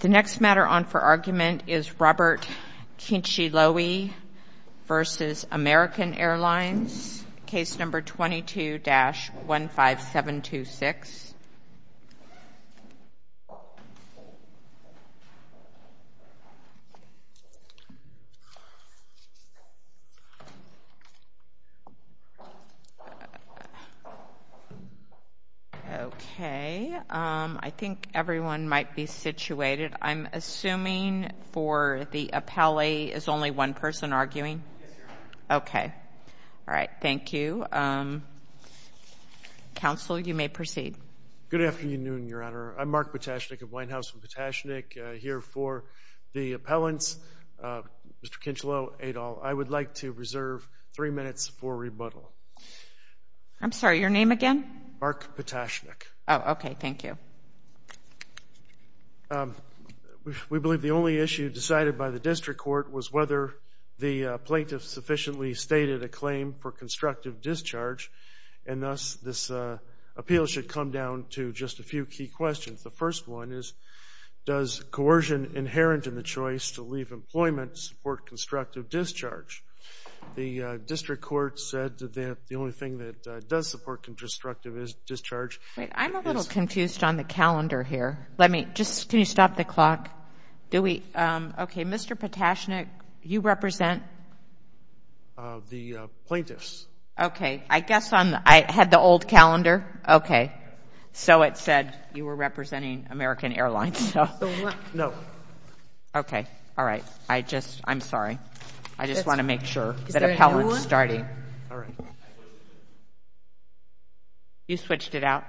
The next matter on for argument is Robert Kincheloe v. American Airlines, case number 22-15726. Okay, I think everyone might be situated. I'm assuming for the appellee, is only one person arguing? Yes, Your Honor. Okay. All right, thank you. Counsel, you may proceed. Good afternoon, Your Honor. I'm Mark Potashnik of White House. I'm Potashnik here for the appellants. Mr. Kincheloe, Adol, I would like to reserve three minutes for rebuttal. I'm sorry, your name again? Mark Potashnik. Oh, okay, thank you. We believe the only issue decided by the district court was whether the plaintiff sufficiently stated a claim for constructive discharge, and thus this appeal should come down to just a few key questions. The first one is, does coercion inherent in the choice to leave employment support constructive discharge? The district court said that the only thing that does support constructive discharge. Wait, I'm a little confused on the calendar here. Can you stop the clock? Okay, Mr. Potashnik, you represent? The plaintiffs. Okay, I guess I had the old calendar. Okay, so it said you were representing American Airlines. No. Okay, all right, I'm sorry. I just want to make sure that appellant's starting. All right. You switched it out?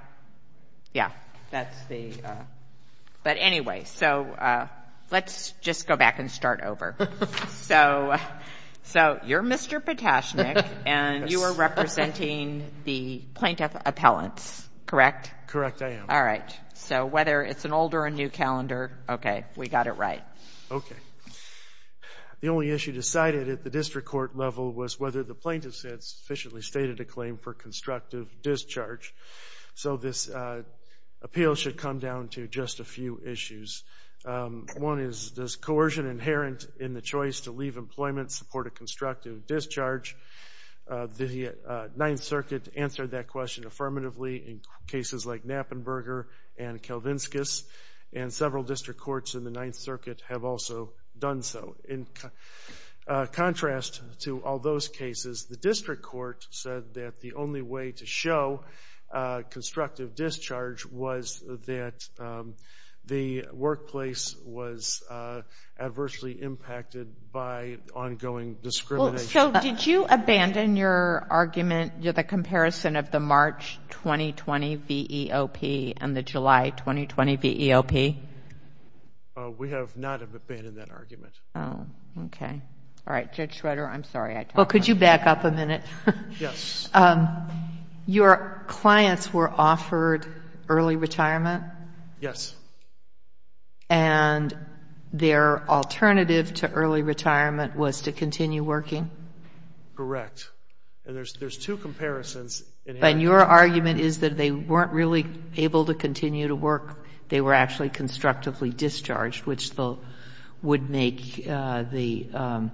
Yeah, that's the ‑‑ but anyway, so let's just go back and start over. So you're Mr. Potashnik, and you are representing the plaintiff appellants, correct? Correct, I am. All right, so whether it's an old or a new calendar, okay, we got it right. Okay, the only issue decided at the district court level was whether the plaintiffs had sufficiently stated a claim for constructive discharge. So this appeal should come down to just a few issues. One is, does coercion inherent in the choice to leave employment support a constructive discharge? The Ninth Circuit answered that question affirmatively in cases like Knappenberger and Kelvinskis, and several district courts in the Ninth Circuit have also done so. In contrast to all those cases, the district court said that the only way to show constructive discharge was that the workplace was adversely impacted by ongoing discrimination. So did you abandon your argument, the comparison of the March 2020 VEOP and the July 2020 VEOP? We have not abandoned that argument. Oh, okay. All right, Judge Schroeder, I'm sorry. Well, could you back up a minute? Yes. Your clients were offered early retirement? Yes. And their alternative to early retirement was to continue working? Correct. And there's two comparisons. And your argument is that they weren't really able to continue to work, they were actually constructively discharged, which would make the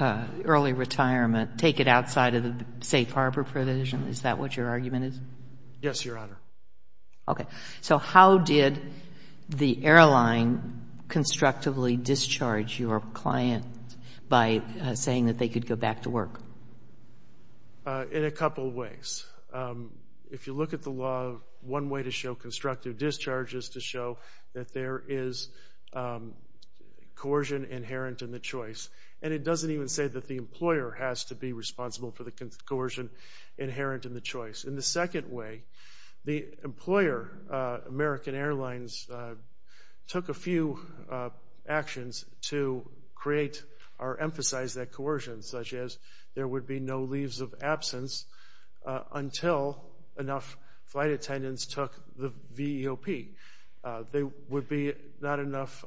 early retirement, take it outside of the safe harbor provision? Is that what your argument is? Yes, Your Honor. Okay. So how did the airline constructively discharge your client by saying that they could go back to work? In a couple ways. If you look at the law, one way to show constructive discharge is to show that there is coercion inherent in the choice. And it doesn't even say that the employer has to be responsible for the coercion inherent in the choice. And the second way, the employer, American Airlines, took a few actions to create or emphasize that coercion, such as there would be no leaves of absence until enough flight attendants took the VEOP. There would be not enough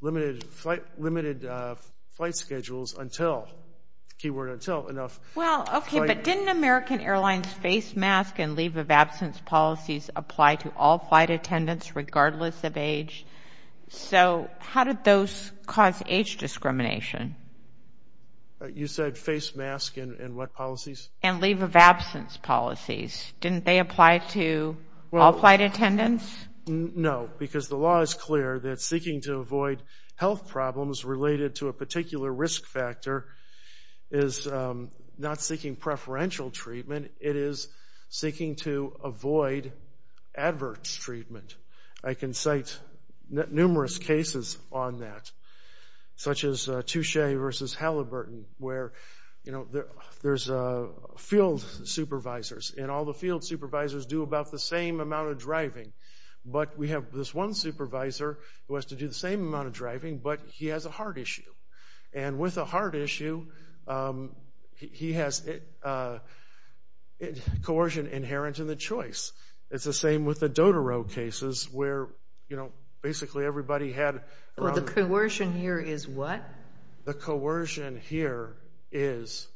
limited flight schedules until, keyword until, enough. Well, okay, but didn't American Airlines face mask and leave of absence policies apply to all flight attendants regardless of age? So how did those cause age discrimination? You said face mask and what policies? And leave of absence policies. Didn't they apply to all flight attendants? No, because the law is clear that seeking to avoid health problems related to a particular risk factor is not seeking preferential treatment. It is seeking to avoid adverse treatment. I can cite numerous cases on that, such as Touche versus Halliburton, where there's field supervisors, and all the field supervisors do about the same amount of driving. But we have this one supervisor who has to do the same amount of driving, but he has a heart issue. And with a heart issue, he has coercion inherent in the choice. It's the same with the Dotoro cases where, you know, basically everybody had. Well, the coercion here is what? The coercion here is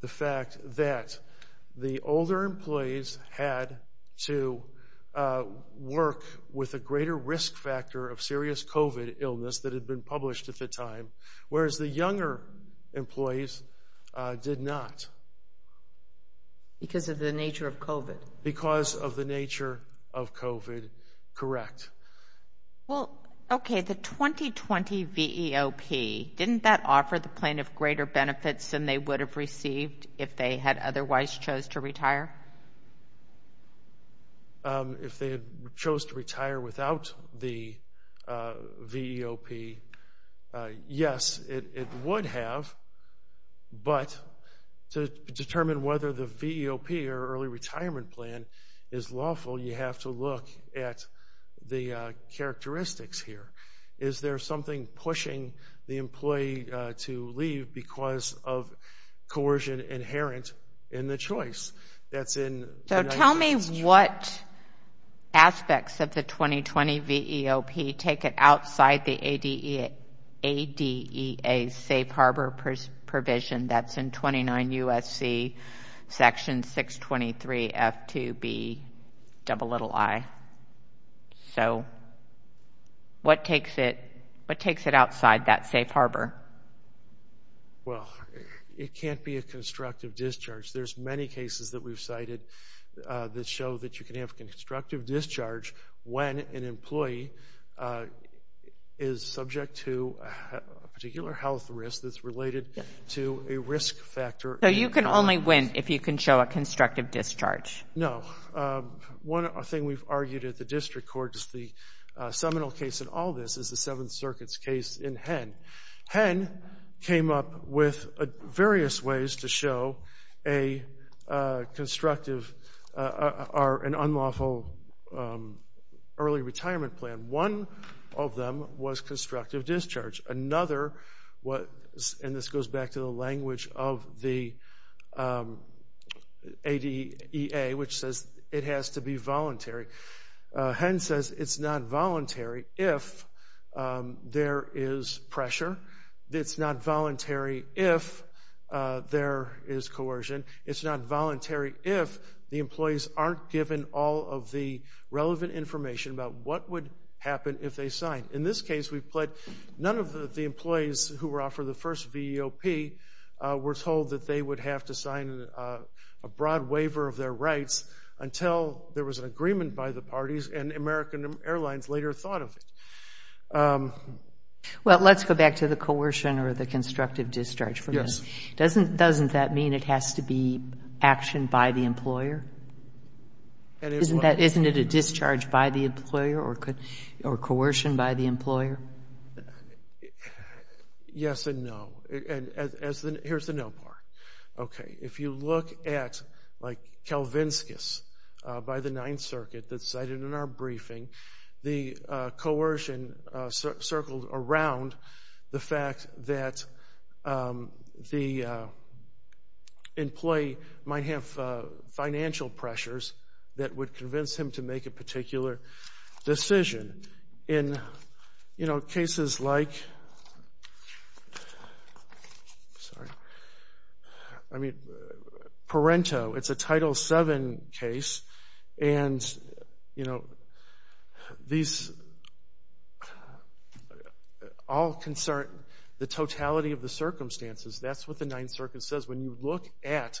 the fact that the older employees had to work with a Whereas the younger employees did not. Because of the nature of COVID. Because of the nature of COVID, correct. Well, okay, the 2020 VEOP, didn't that offer the plaintiff greater benefits than they would have received if they had otherwise chose to retire? If they had chose to retire without the VEOP, yes. It would have. But to determine whether the VEOP or early retirement plan is lawful, you have to look at the characteristics here. Is there something pushing the employee to leave because of coercion inherent in the choice? So tell me what aspects of the 2020 VEOP take it outside the ADEA safe harbor provision that's in 29 U.S.C. section 623 F2B ii. So what takes it outside that safe harbor? Well, it can't be a constructive discharge. There's many cases that we've cited that show that you can have constructive discharge when an employee is subject to a particular health risk that's related to a risk factor. So you can only win if you can show a constructive discharge? No. One thing we've argued at the district court is the seminal case in all this is the Seventh Circuit's case in Henn. Henn came up with various ways to show a constructive or an unlawful early retirement plan. One of them was constructive discharge. Another was, and this goes back to the language of the ADEA, which says it has to be voluntary. Henn says it's not voluntary if there is pressure. It's not voluntary if there is coercion. It's not voluntary if the employees aren't given all of the relevant information about what would happen if they signed. In this case, none of the employees who were offered the first VEOP were told that they would have to sign a broad waiver of their rights until there was an agreement by the parties, and American Airlines later thought of it. Well, let's go back to the coercion or the constructive discharge for a minute. Yes. Doesn't that mean it has to be action by the employer? Isn't it a discharge by the employer or coercion by the employer? Yes and no. Here's the no part. Okay. If you look at, like, Kelvinskis by the Ninth Circuit that's cited in our briefing, the coercion circled around the fact that the employee might have financial pressures that would convince him to make a particular decision. In cases like Parento, it's a Title VII case, and these all concern the totality of the circumstances. That's what the Ninth Circuit says. When you look at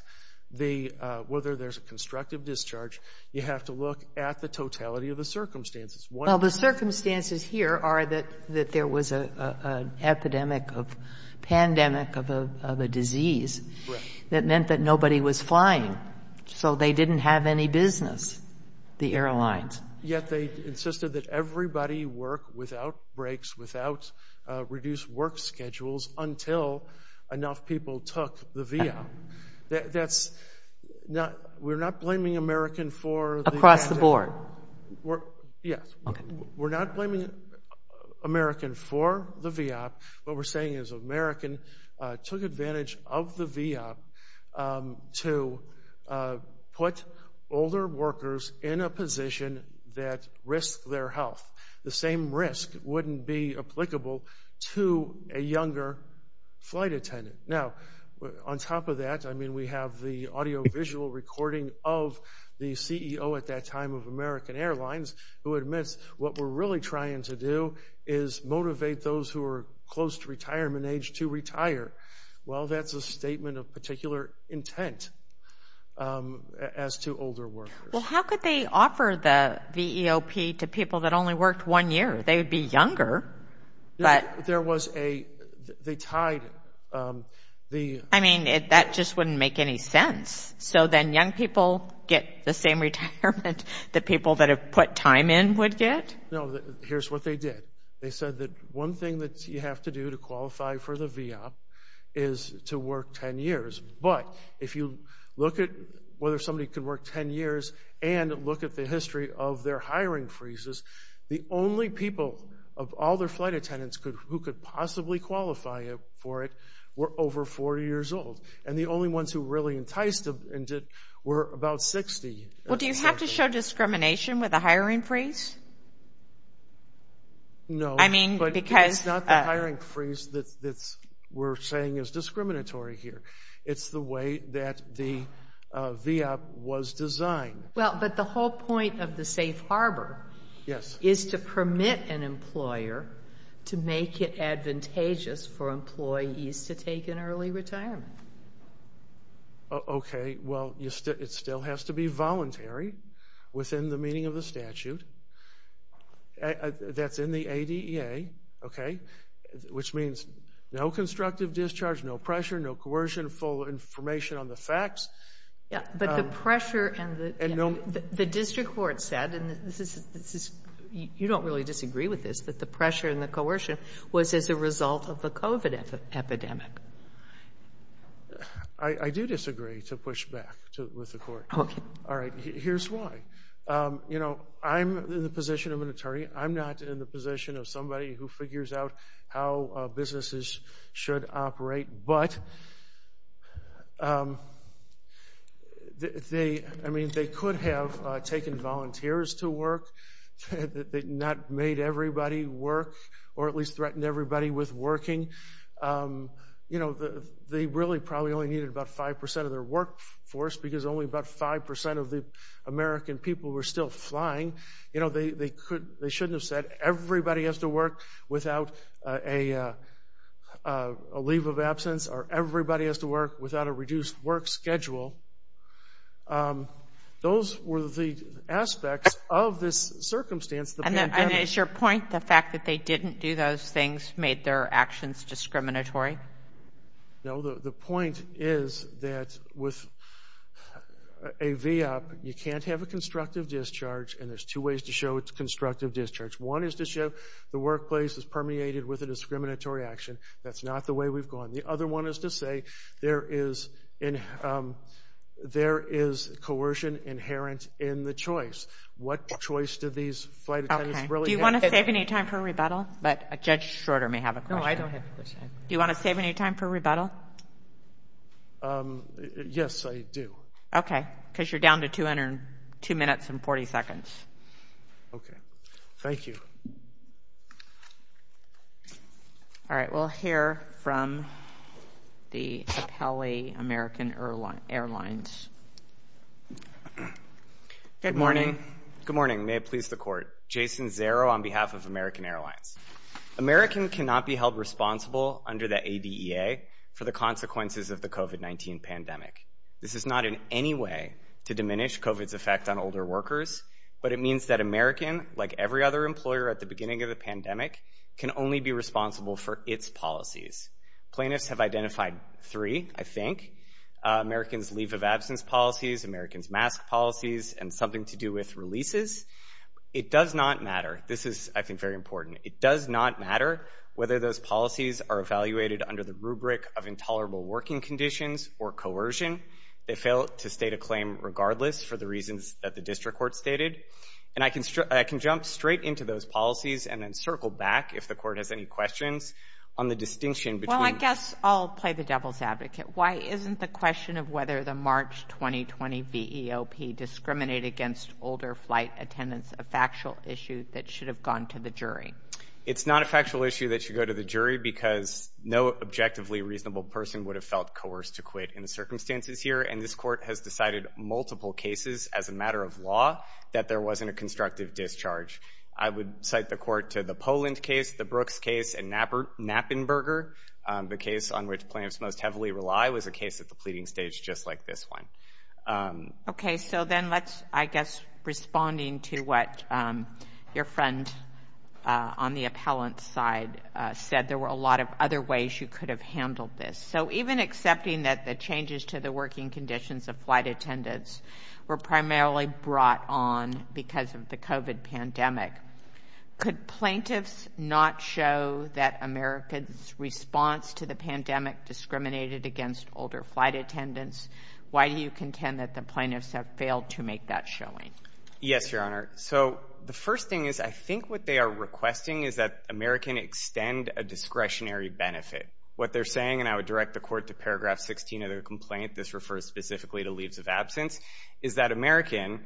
whether there's a constructive discharge, you have to look at the totality of the circumstances. Well, the circumstances here are that there was an epidemic, a pandemic of a disease that meant that nobody was flying, so they didn't have any business, the airlines. Yet they insisted that everybody work without breaks, without reduced work schedules, until enough people took the VIA. That's not we're not blaming American for the... Across the board. Yes. We're not blaming American for the VIA. What we're saying is American took advantage of the VIA to put older workers in a position that risked their health. The same risk wouldn't be applicable to a younger flight attendant. Now, on top of that, I mean, we have the audiovisual recording of the CEO at that time of American Airlines who admits what we're really trying to do is motivate those who are close to retirement age to retire. Well, that's a statement of particular intent as to older workers. Well, how could they offer the VEOP to people that only worked one year? They would be younger. There was a... They tied the... I mean, that just wouldn't make any sense. So then young people get the same retirement that people that have put time in would get? No, here's what they did. They said that one thing that you have to do to qualify for the VEOP is to work 10 years. But if you look at whether somebody could work 10 years and look at the history of their hiring freezes, the only people of all their flight attendants who could possibly qualify for it were over 40 years old. And the only ones who were really enticed were about 60. Well, do you have to show discrimination with a hiring freeze? No. I mean, because... It's not the hiring freeze that we're saying is discriminatory here. It's the way that the VEOP was designed. Well, but the whole point of the safe harbor is to permit an employer to make it advantageous for employees to take an early retirement. Okay, well, it still has to be voluntary within the meaning of the statute. That's in the ADEA, okay, which means no constructive discharge, no pressure, no coercion, full information on the facts. Yeah, but the pressure and the... You don't really disagree with this, that the pressure and the coercion was as a result of the COVID epidemic. I do disagree to push back with the court. Okay. All right, here's why. You know, I'm in the position of an attorney. I'm not in the position of somebody who figures out how businesses should operate, but... I mean, they could have taken volunteers to work. They not made everybody work or at least threatened everybody with working. You know, they really probably only needed about 5% of their workforce because only about 5% of the American people were still flying. You know, they shouldn't have said, everybody has to work without a leave of absence or everybody has to work without a reduced work schedule. Those were the aspects of this circumstance. And is your point the fact that they didn't do those things made their actions discriminatory? No, the point is that with a VOP, you can't have a constructive discharge and there's two ways to show it's constructive discharge. One is to show the workplace is permeated with a discriminatory action. That's not the way we've gone. The other one is to say there is coercion inherent in the choice. What choice did these flight attendants really have? Do you want to save any time for rebuttal? But Judge Schroeder may have a question. No, I don't have a question. Do you want to save any time for rebuttal? Yes, I do. Okay, because you're down to 2 minutes and 40 seconds. Okay. Thank you. All right, we'll hear from the Capelli American Airlines. Good morning. Good morning. May it please the Court. Jason Zerro on behalf of American Airlines. American cannot be held responsible under the ADEA for the consequences of the COVID-19 pandemic. This is not in any way to diminish COVID's effect on older workers, but it means that American, like every other employer at the beginning of the pandemic, can only be responsible for its policies. Plaintiffs have identified three, I think. American's leave of absence policies, American's mask policies, and something to do with releases. It does not matter. This is, I think, very important. It does not matter whether those policies are evaluated under the rubric of intolerable working conditions or coercion. They fail to state a claim regardless for the reasons that the district court stated. And I can jump straight into those policies and then circle back, if the Court has any questions, on the distinction between. Well, I guess I'll play the devil's advocate. Why isn't the question of whether the March 2020 VEOP discriminated against older flight attendants a factual issue that should have gone to the jury? It's not a factual issue that should go to the jury because no objectively reasonable person would have felt coerced to quit in the circumstances here. And this Court has decided multiple cases as a matter of law that there wasn't a constructive discharge. I would cite the Court to the Poland case, the Brooks case, and Knappenberger. The case on which plaintiffs most heavily rely was a case at the pleading stage just like this one. Okay, so then let's, I guess, responding to what your friend on the appellant side said, there were a lot of other ways you could have handled this. So even accepting that the changes to the working conditions of flight attendants were primarily brought on because of the COVID pandemic, could plaintiffs not show that America's response to the pandemic discriminated against older flight attendants? Why do you contend that the plaintiffs have failed to make that showing? Yes, Your Honor. So the first thing is I think what they are requesting is that America extend a discretionary benefit. What they're saying, and I would direct the Court to paragraph 16 of their complaint, this refers specifically to leaves of absence, is that American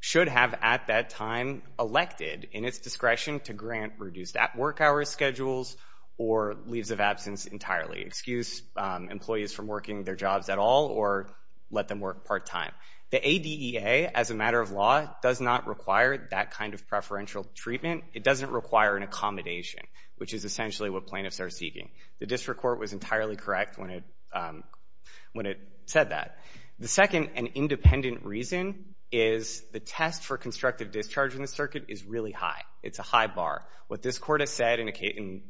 should have at that time elected in its discretion to grant reduced work hours schedules or leaves of absence entirely, excuse employees from working their jobs at all or let them work part-time. The ADEA, as a matter of law, does not require that kind of preferential treatment. It doesn't require an accommodation, which is essentially what plaintiffs are seeking. The District Court was entirely correct when it said that. The second and independent reason is the test for constructive discharge in the circuit is really high. It's a high bar. What this Court has said in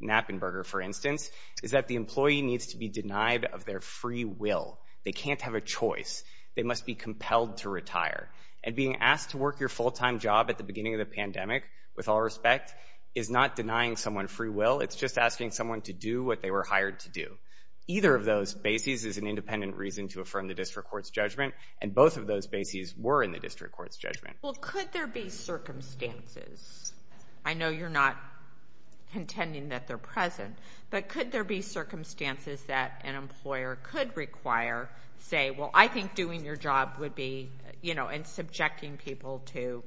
Knappenberger, for instance, is that the employee needs to be denied of their free will. They can't have a choice. They must be compelled to retire. And being asked to work your full-time job at the beginning of the pandemic, with all respect, is not denying someone free will. It's just asking someone to do what they were hired to do. Either of those bases is an independent reason to affirm the District Court's judgment, and both of those bases were in the District Court's judgment. Well, could there be circumstances? I know you're not contending that they're present, but could there be circumstances that an employer could require, say, well, I think doing your job would be, you know, and subjecting people to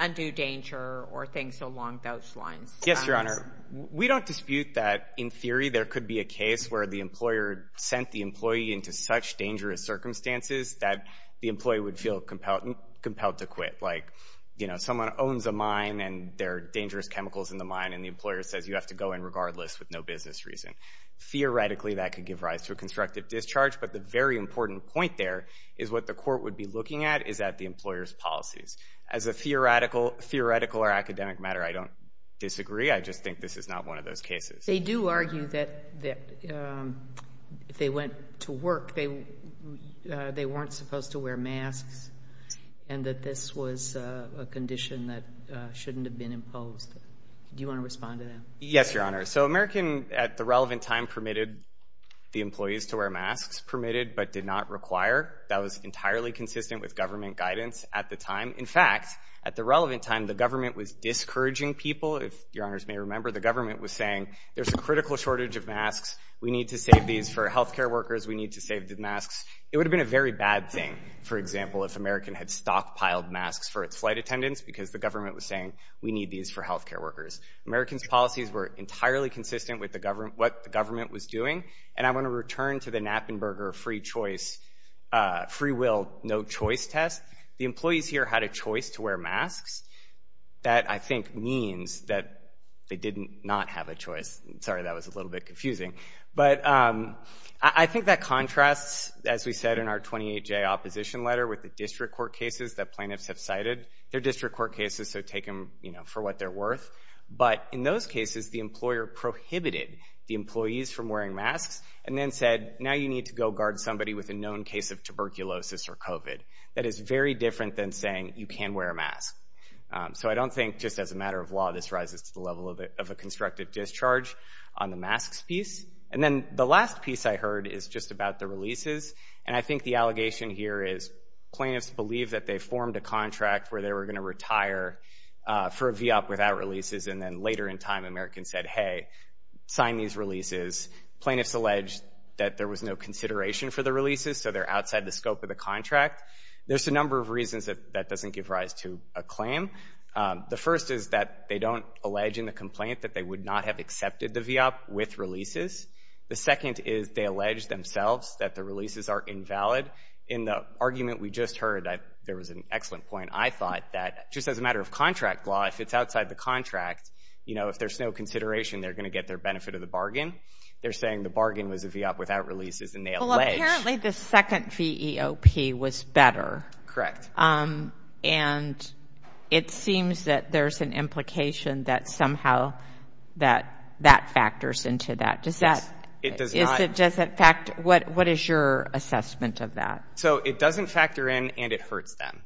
undue danger or things along those lines? Yes, Your Honor. We don't dispute that, in theory, there could be a case where the employer sent the employee into such dangerous circumstances that the employee would feel compelled to quit. Like, you know, someone owns a mine and there are dangerous chemicals in the mine and the employer says you have to go in regardless with no business reason. Theoretically, that could give rise to a constructive discharge, but the very important point there is what the Court would be looking at is at the employer's policies. As a theoretical or academic matter, I don't disagree. I just think this is not one of those cases. They do argue that if they went to work, they weren't supposed to wear masks and that this was a condition that shouldn't have been imposed. Do you want to respond to that? Yes, Your Honor. So American, at the relevant time, permitted the employees to wear masks, permitted but did not require. That was entirely consistent with government guidance at the time. In fact, at the relevant time, the government was discouraging people. If Your Honors may remember, the government was saying, there's a critical shortage of masks, we need to save these for healthcare workers, we need to save the masks. It would have been a very bad thing, for example, if American had stockpiled masks for its flight attendants because the government was saying, we need these for healthcare workers. American's policies were entirely consistent with what the government was doing and I want to return to the Knappenberger free choice, free will, no choice test. The employees here had a choice to wear masks. That, I think, means that they did not have a choice. Sorry, that was a little bit confusing. But I think that contrasts, as we said, in our 28-J opposition letter with the district court cases that plaintiffs have cited. They're district court cases, so take them for what they're worth. But in those cases, the employer prohibited the employees from wearing masks and then said, now you need to go guard somebody That is very different than saying you can wear a mask. So I don't think, just as a matter of law, this rises to the level of a constructive discharge on the masks piece. And then the last piece I heard is just about the releases and I think the allegation here is plaintiffs believe that they formed a contract where they were going to retire for a VOP without releases and then later in time, American said, hey, sign these releases. Plaintiffs allege that there was no consideration for the releases, so they're outside the scope of the contract. There's a number of reasons that doesn't give rise to a claim. The first is that they don't allege in the complaint that they would not have accepted the VOP with releases. The second is they allege themselves that the releases are invalid. In the argument we just heard, there was an excellent point I thought, that just as a matter of contract law, if it's outside the contract, you know, if there's no consideration, they're going to get their benefit of the bargain. They're saying the bargain was a VOP without releases and they allege... Well, apparently the second VEOP was better. Correct. And it seems that there's an implication that somehow that factors into that. Yes, it does not. What is your assessment of that? So it doesn't factor in and it hurts them.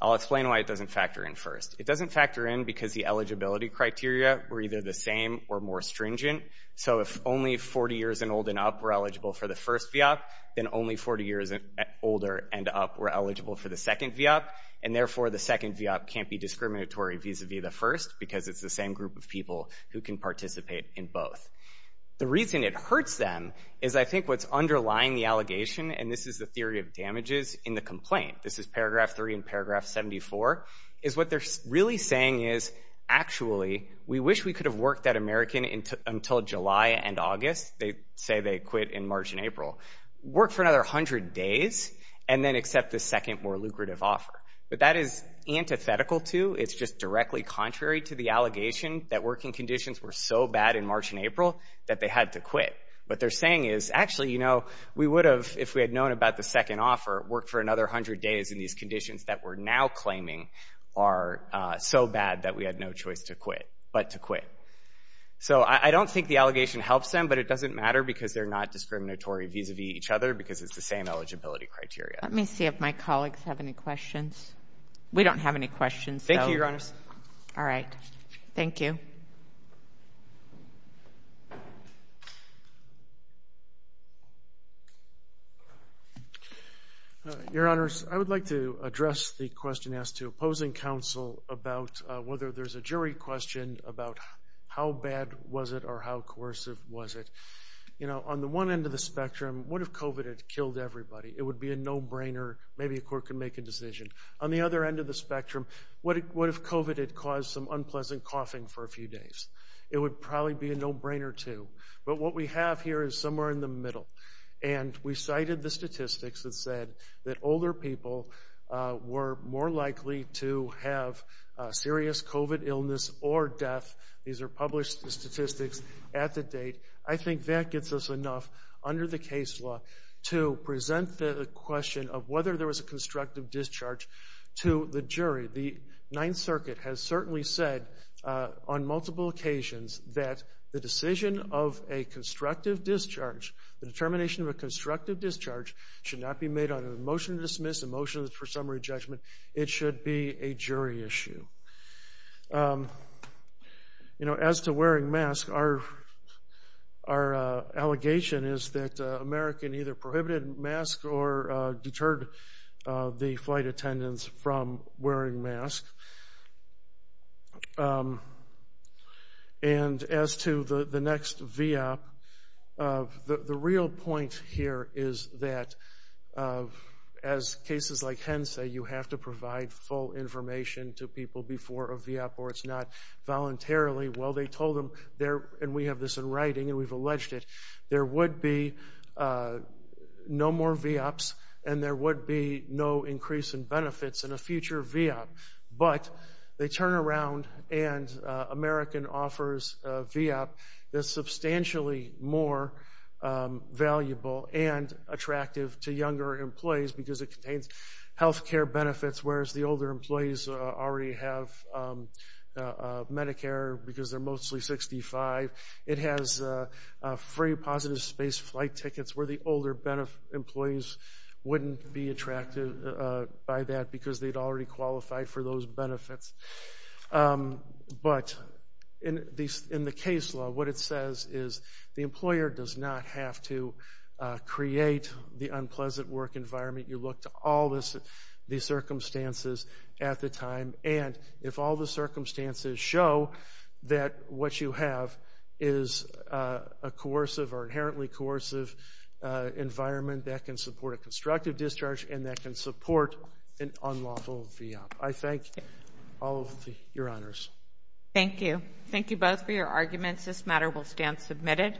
I'll explain why it doesn't factor in first. It doesn't factor in because the eligibility criteria were either the same or more stringent. So if only 40 years and old and up were eligible for the first VOP, then only 40 years and older and up were eligible for the second VOP, and therefore the second VOP can't be discriminatory vis-à-vis the first because it's the same group of people who can participate in both. The reason it hurts them is I think what's underlying the allegation, and this is the theory of damages in the complaint, this is paragraph 3 and paragraph 74, is what they're really saying is, actually, we wish we could have worked that American until July and August. They say they quit in March and April. Work for another 100 days and then accept the second more lucrative offer. But that is antithetical to, it's just directly contrary to the allegation that working conditions were so bad in March and April that they had to quit. What they're saying is, actually, you know, we would have, if we had known about the second offer, worked for another 100 days in these conditions that we're now claiming are so bad that we had no choice but to quit. So I don't think the allegation helps them, but it doesn't matter because they're not discriminatory vis-à-vis each other because it's the same eligibility criteria. Let me see if my colleagues have any questions. We don't have any questions. Thank you, Your Honors. All right. Thank you. Your Honors, I would like to address the question asked to opposing counsel about whether there's a jury question about how bad was it or how coercive was it. You know, on the one end of the spectrum, what if COVID had killed everybody? It would be a no-brainer. Maybe a court could make a decision. On the other end of the spectrum, what if COVID had caused some unpleasant coughing for a few days? It would probably be a no-brainer, too. But what we have here is somewhere in the middle, and we cited the statistics that said that older people were more likely to have serious COVID illness or death. These are published statistics at the date. I think that gets us enough, under the case law, to present the question of whether there was a constructive discharge to the jury. The Ninth Circuit has certainly said on multiple occasions that the decision of a constructive discharge, the determination of a constructive discharge, should not be made on a motion to dismiss, a motion for summary judgment. It should be a jury issue. As to wearing masks, our allegation is that America either prohibited masks or deterred the flight attendants from wearing masks. And as to the next VIA, the real point here is that, as cases like HEN say, you have to provide full information to people before a VIA or it's not voluntarily. Well, they told them, and we have this in writing and we've alleged it, there would be no more VIAs and there would be no increase in benefits in a future VIA. But they turn around and America offers a VIA that's substantially more valuable and attractive to younger employees because it contains health care benefits, whereas the older employees already have Medicare because they're mostly 65. It has free positive space flight tickets where the older employees wouldn't be attracted by that because they'd already qualified for those benefits. But in the case law, what it says is the employer does not have to create the unpleasant work environment. You look to all these circumstances at the time and if all the circumstances show that what you have is a coercive or inherently coercive environment that can support a constructive discharge and that can support an unlawful VIA. I thank all of your honors. Thank you. Thank you both for your arguments. This matter will stand submitted.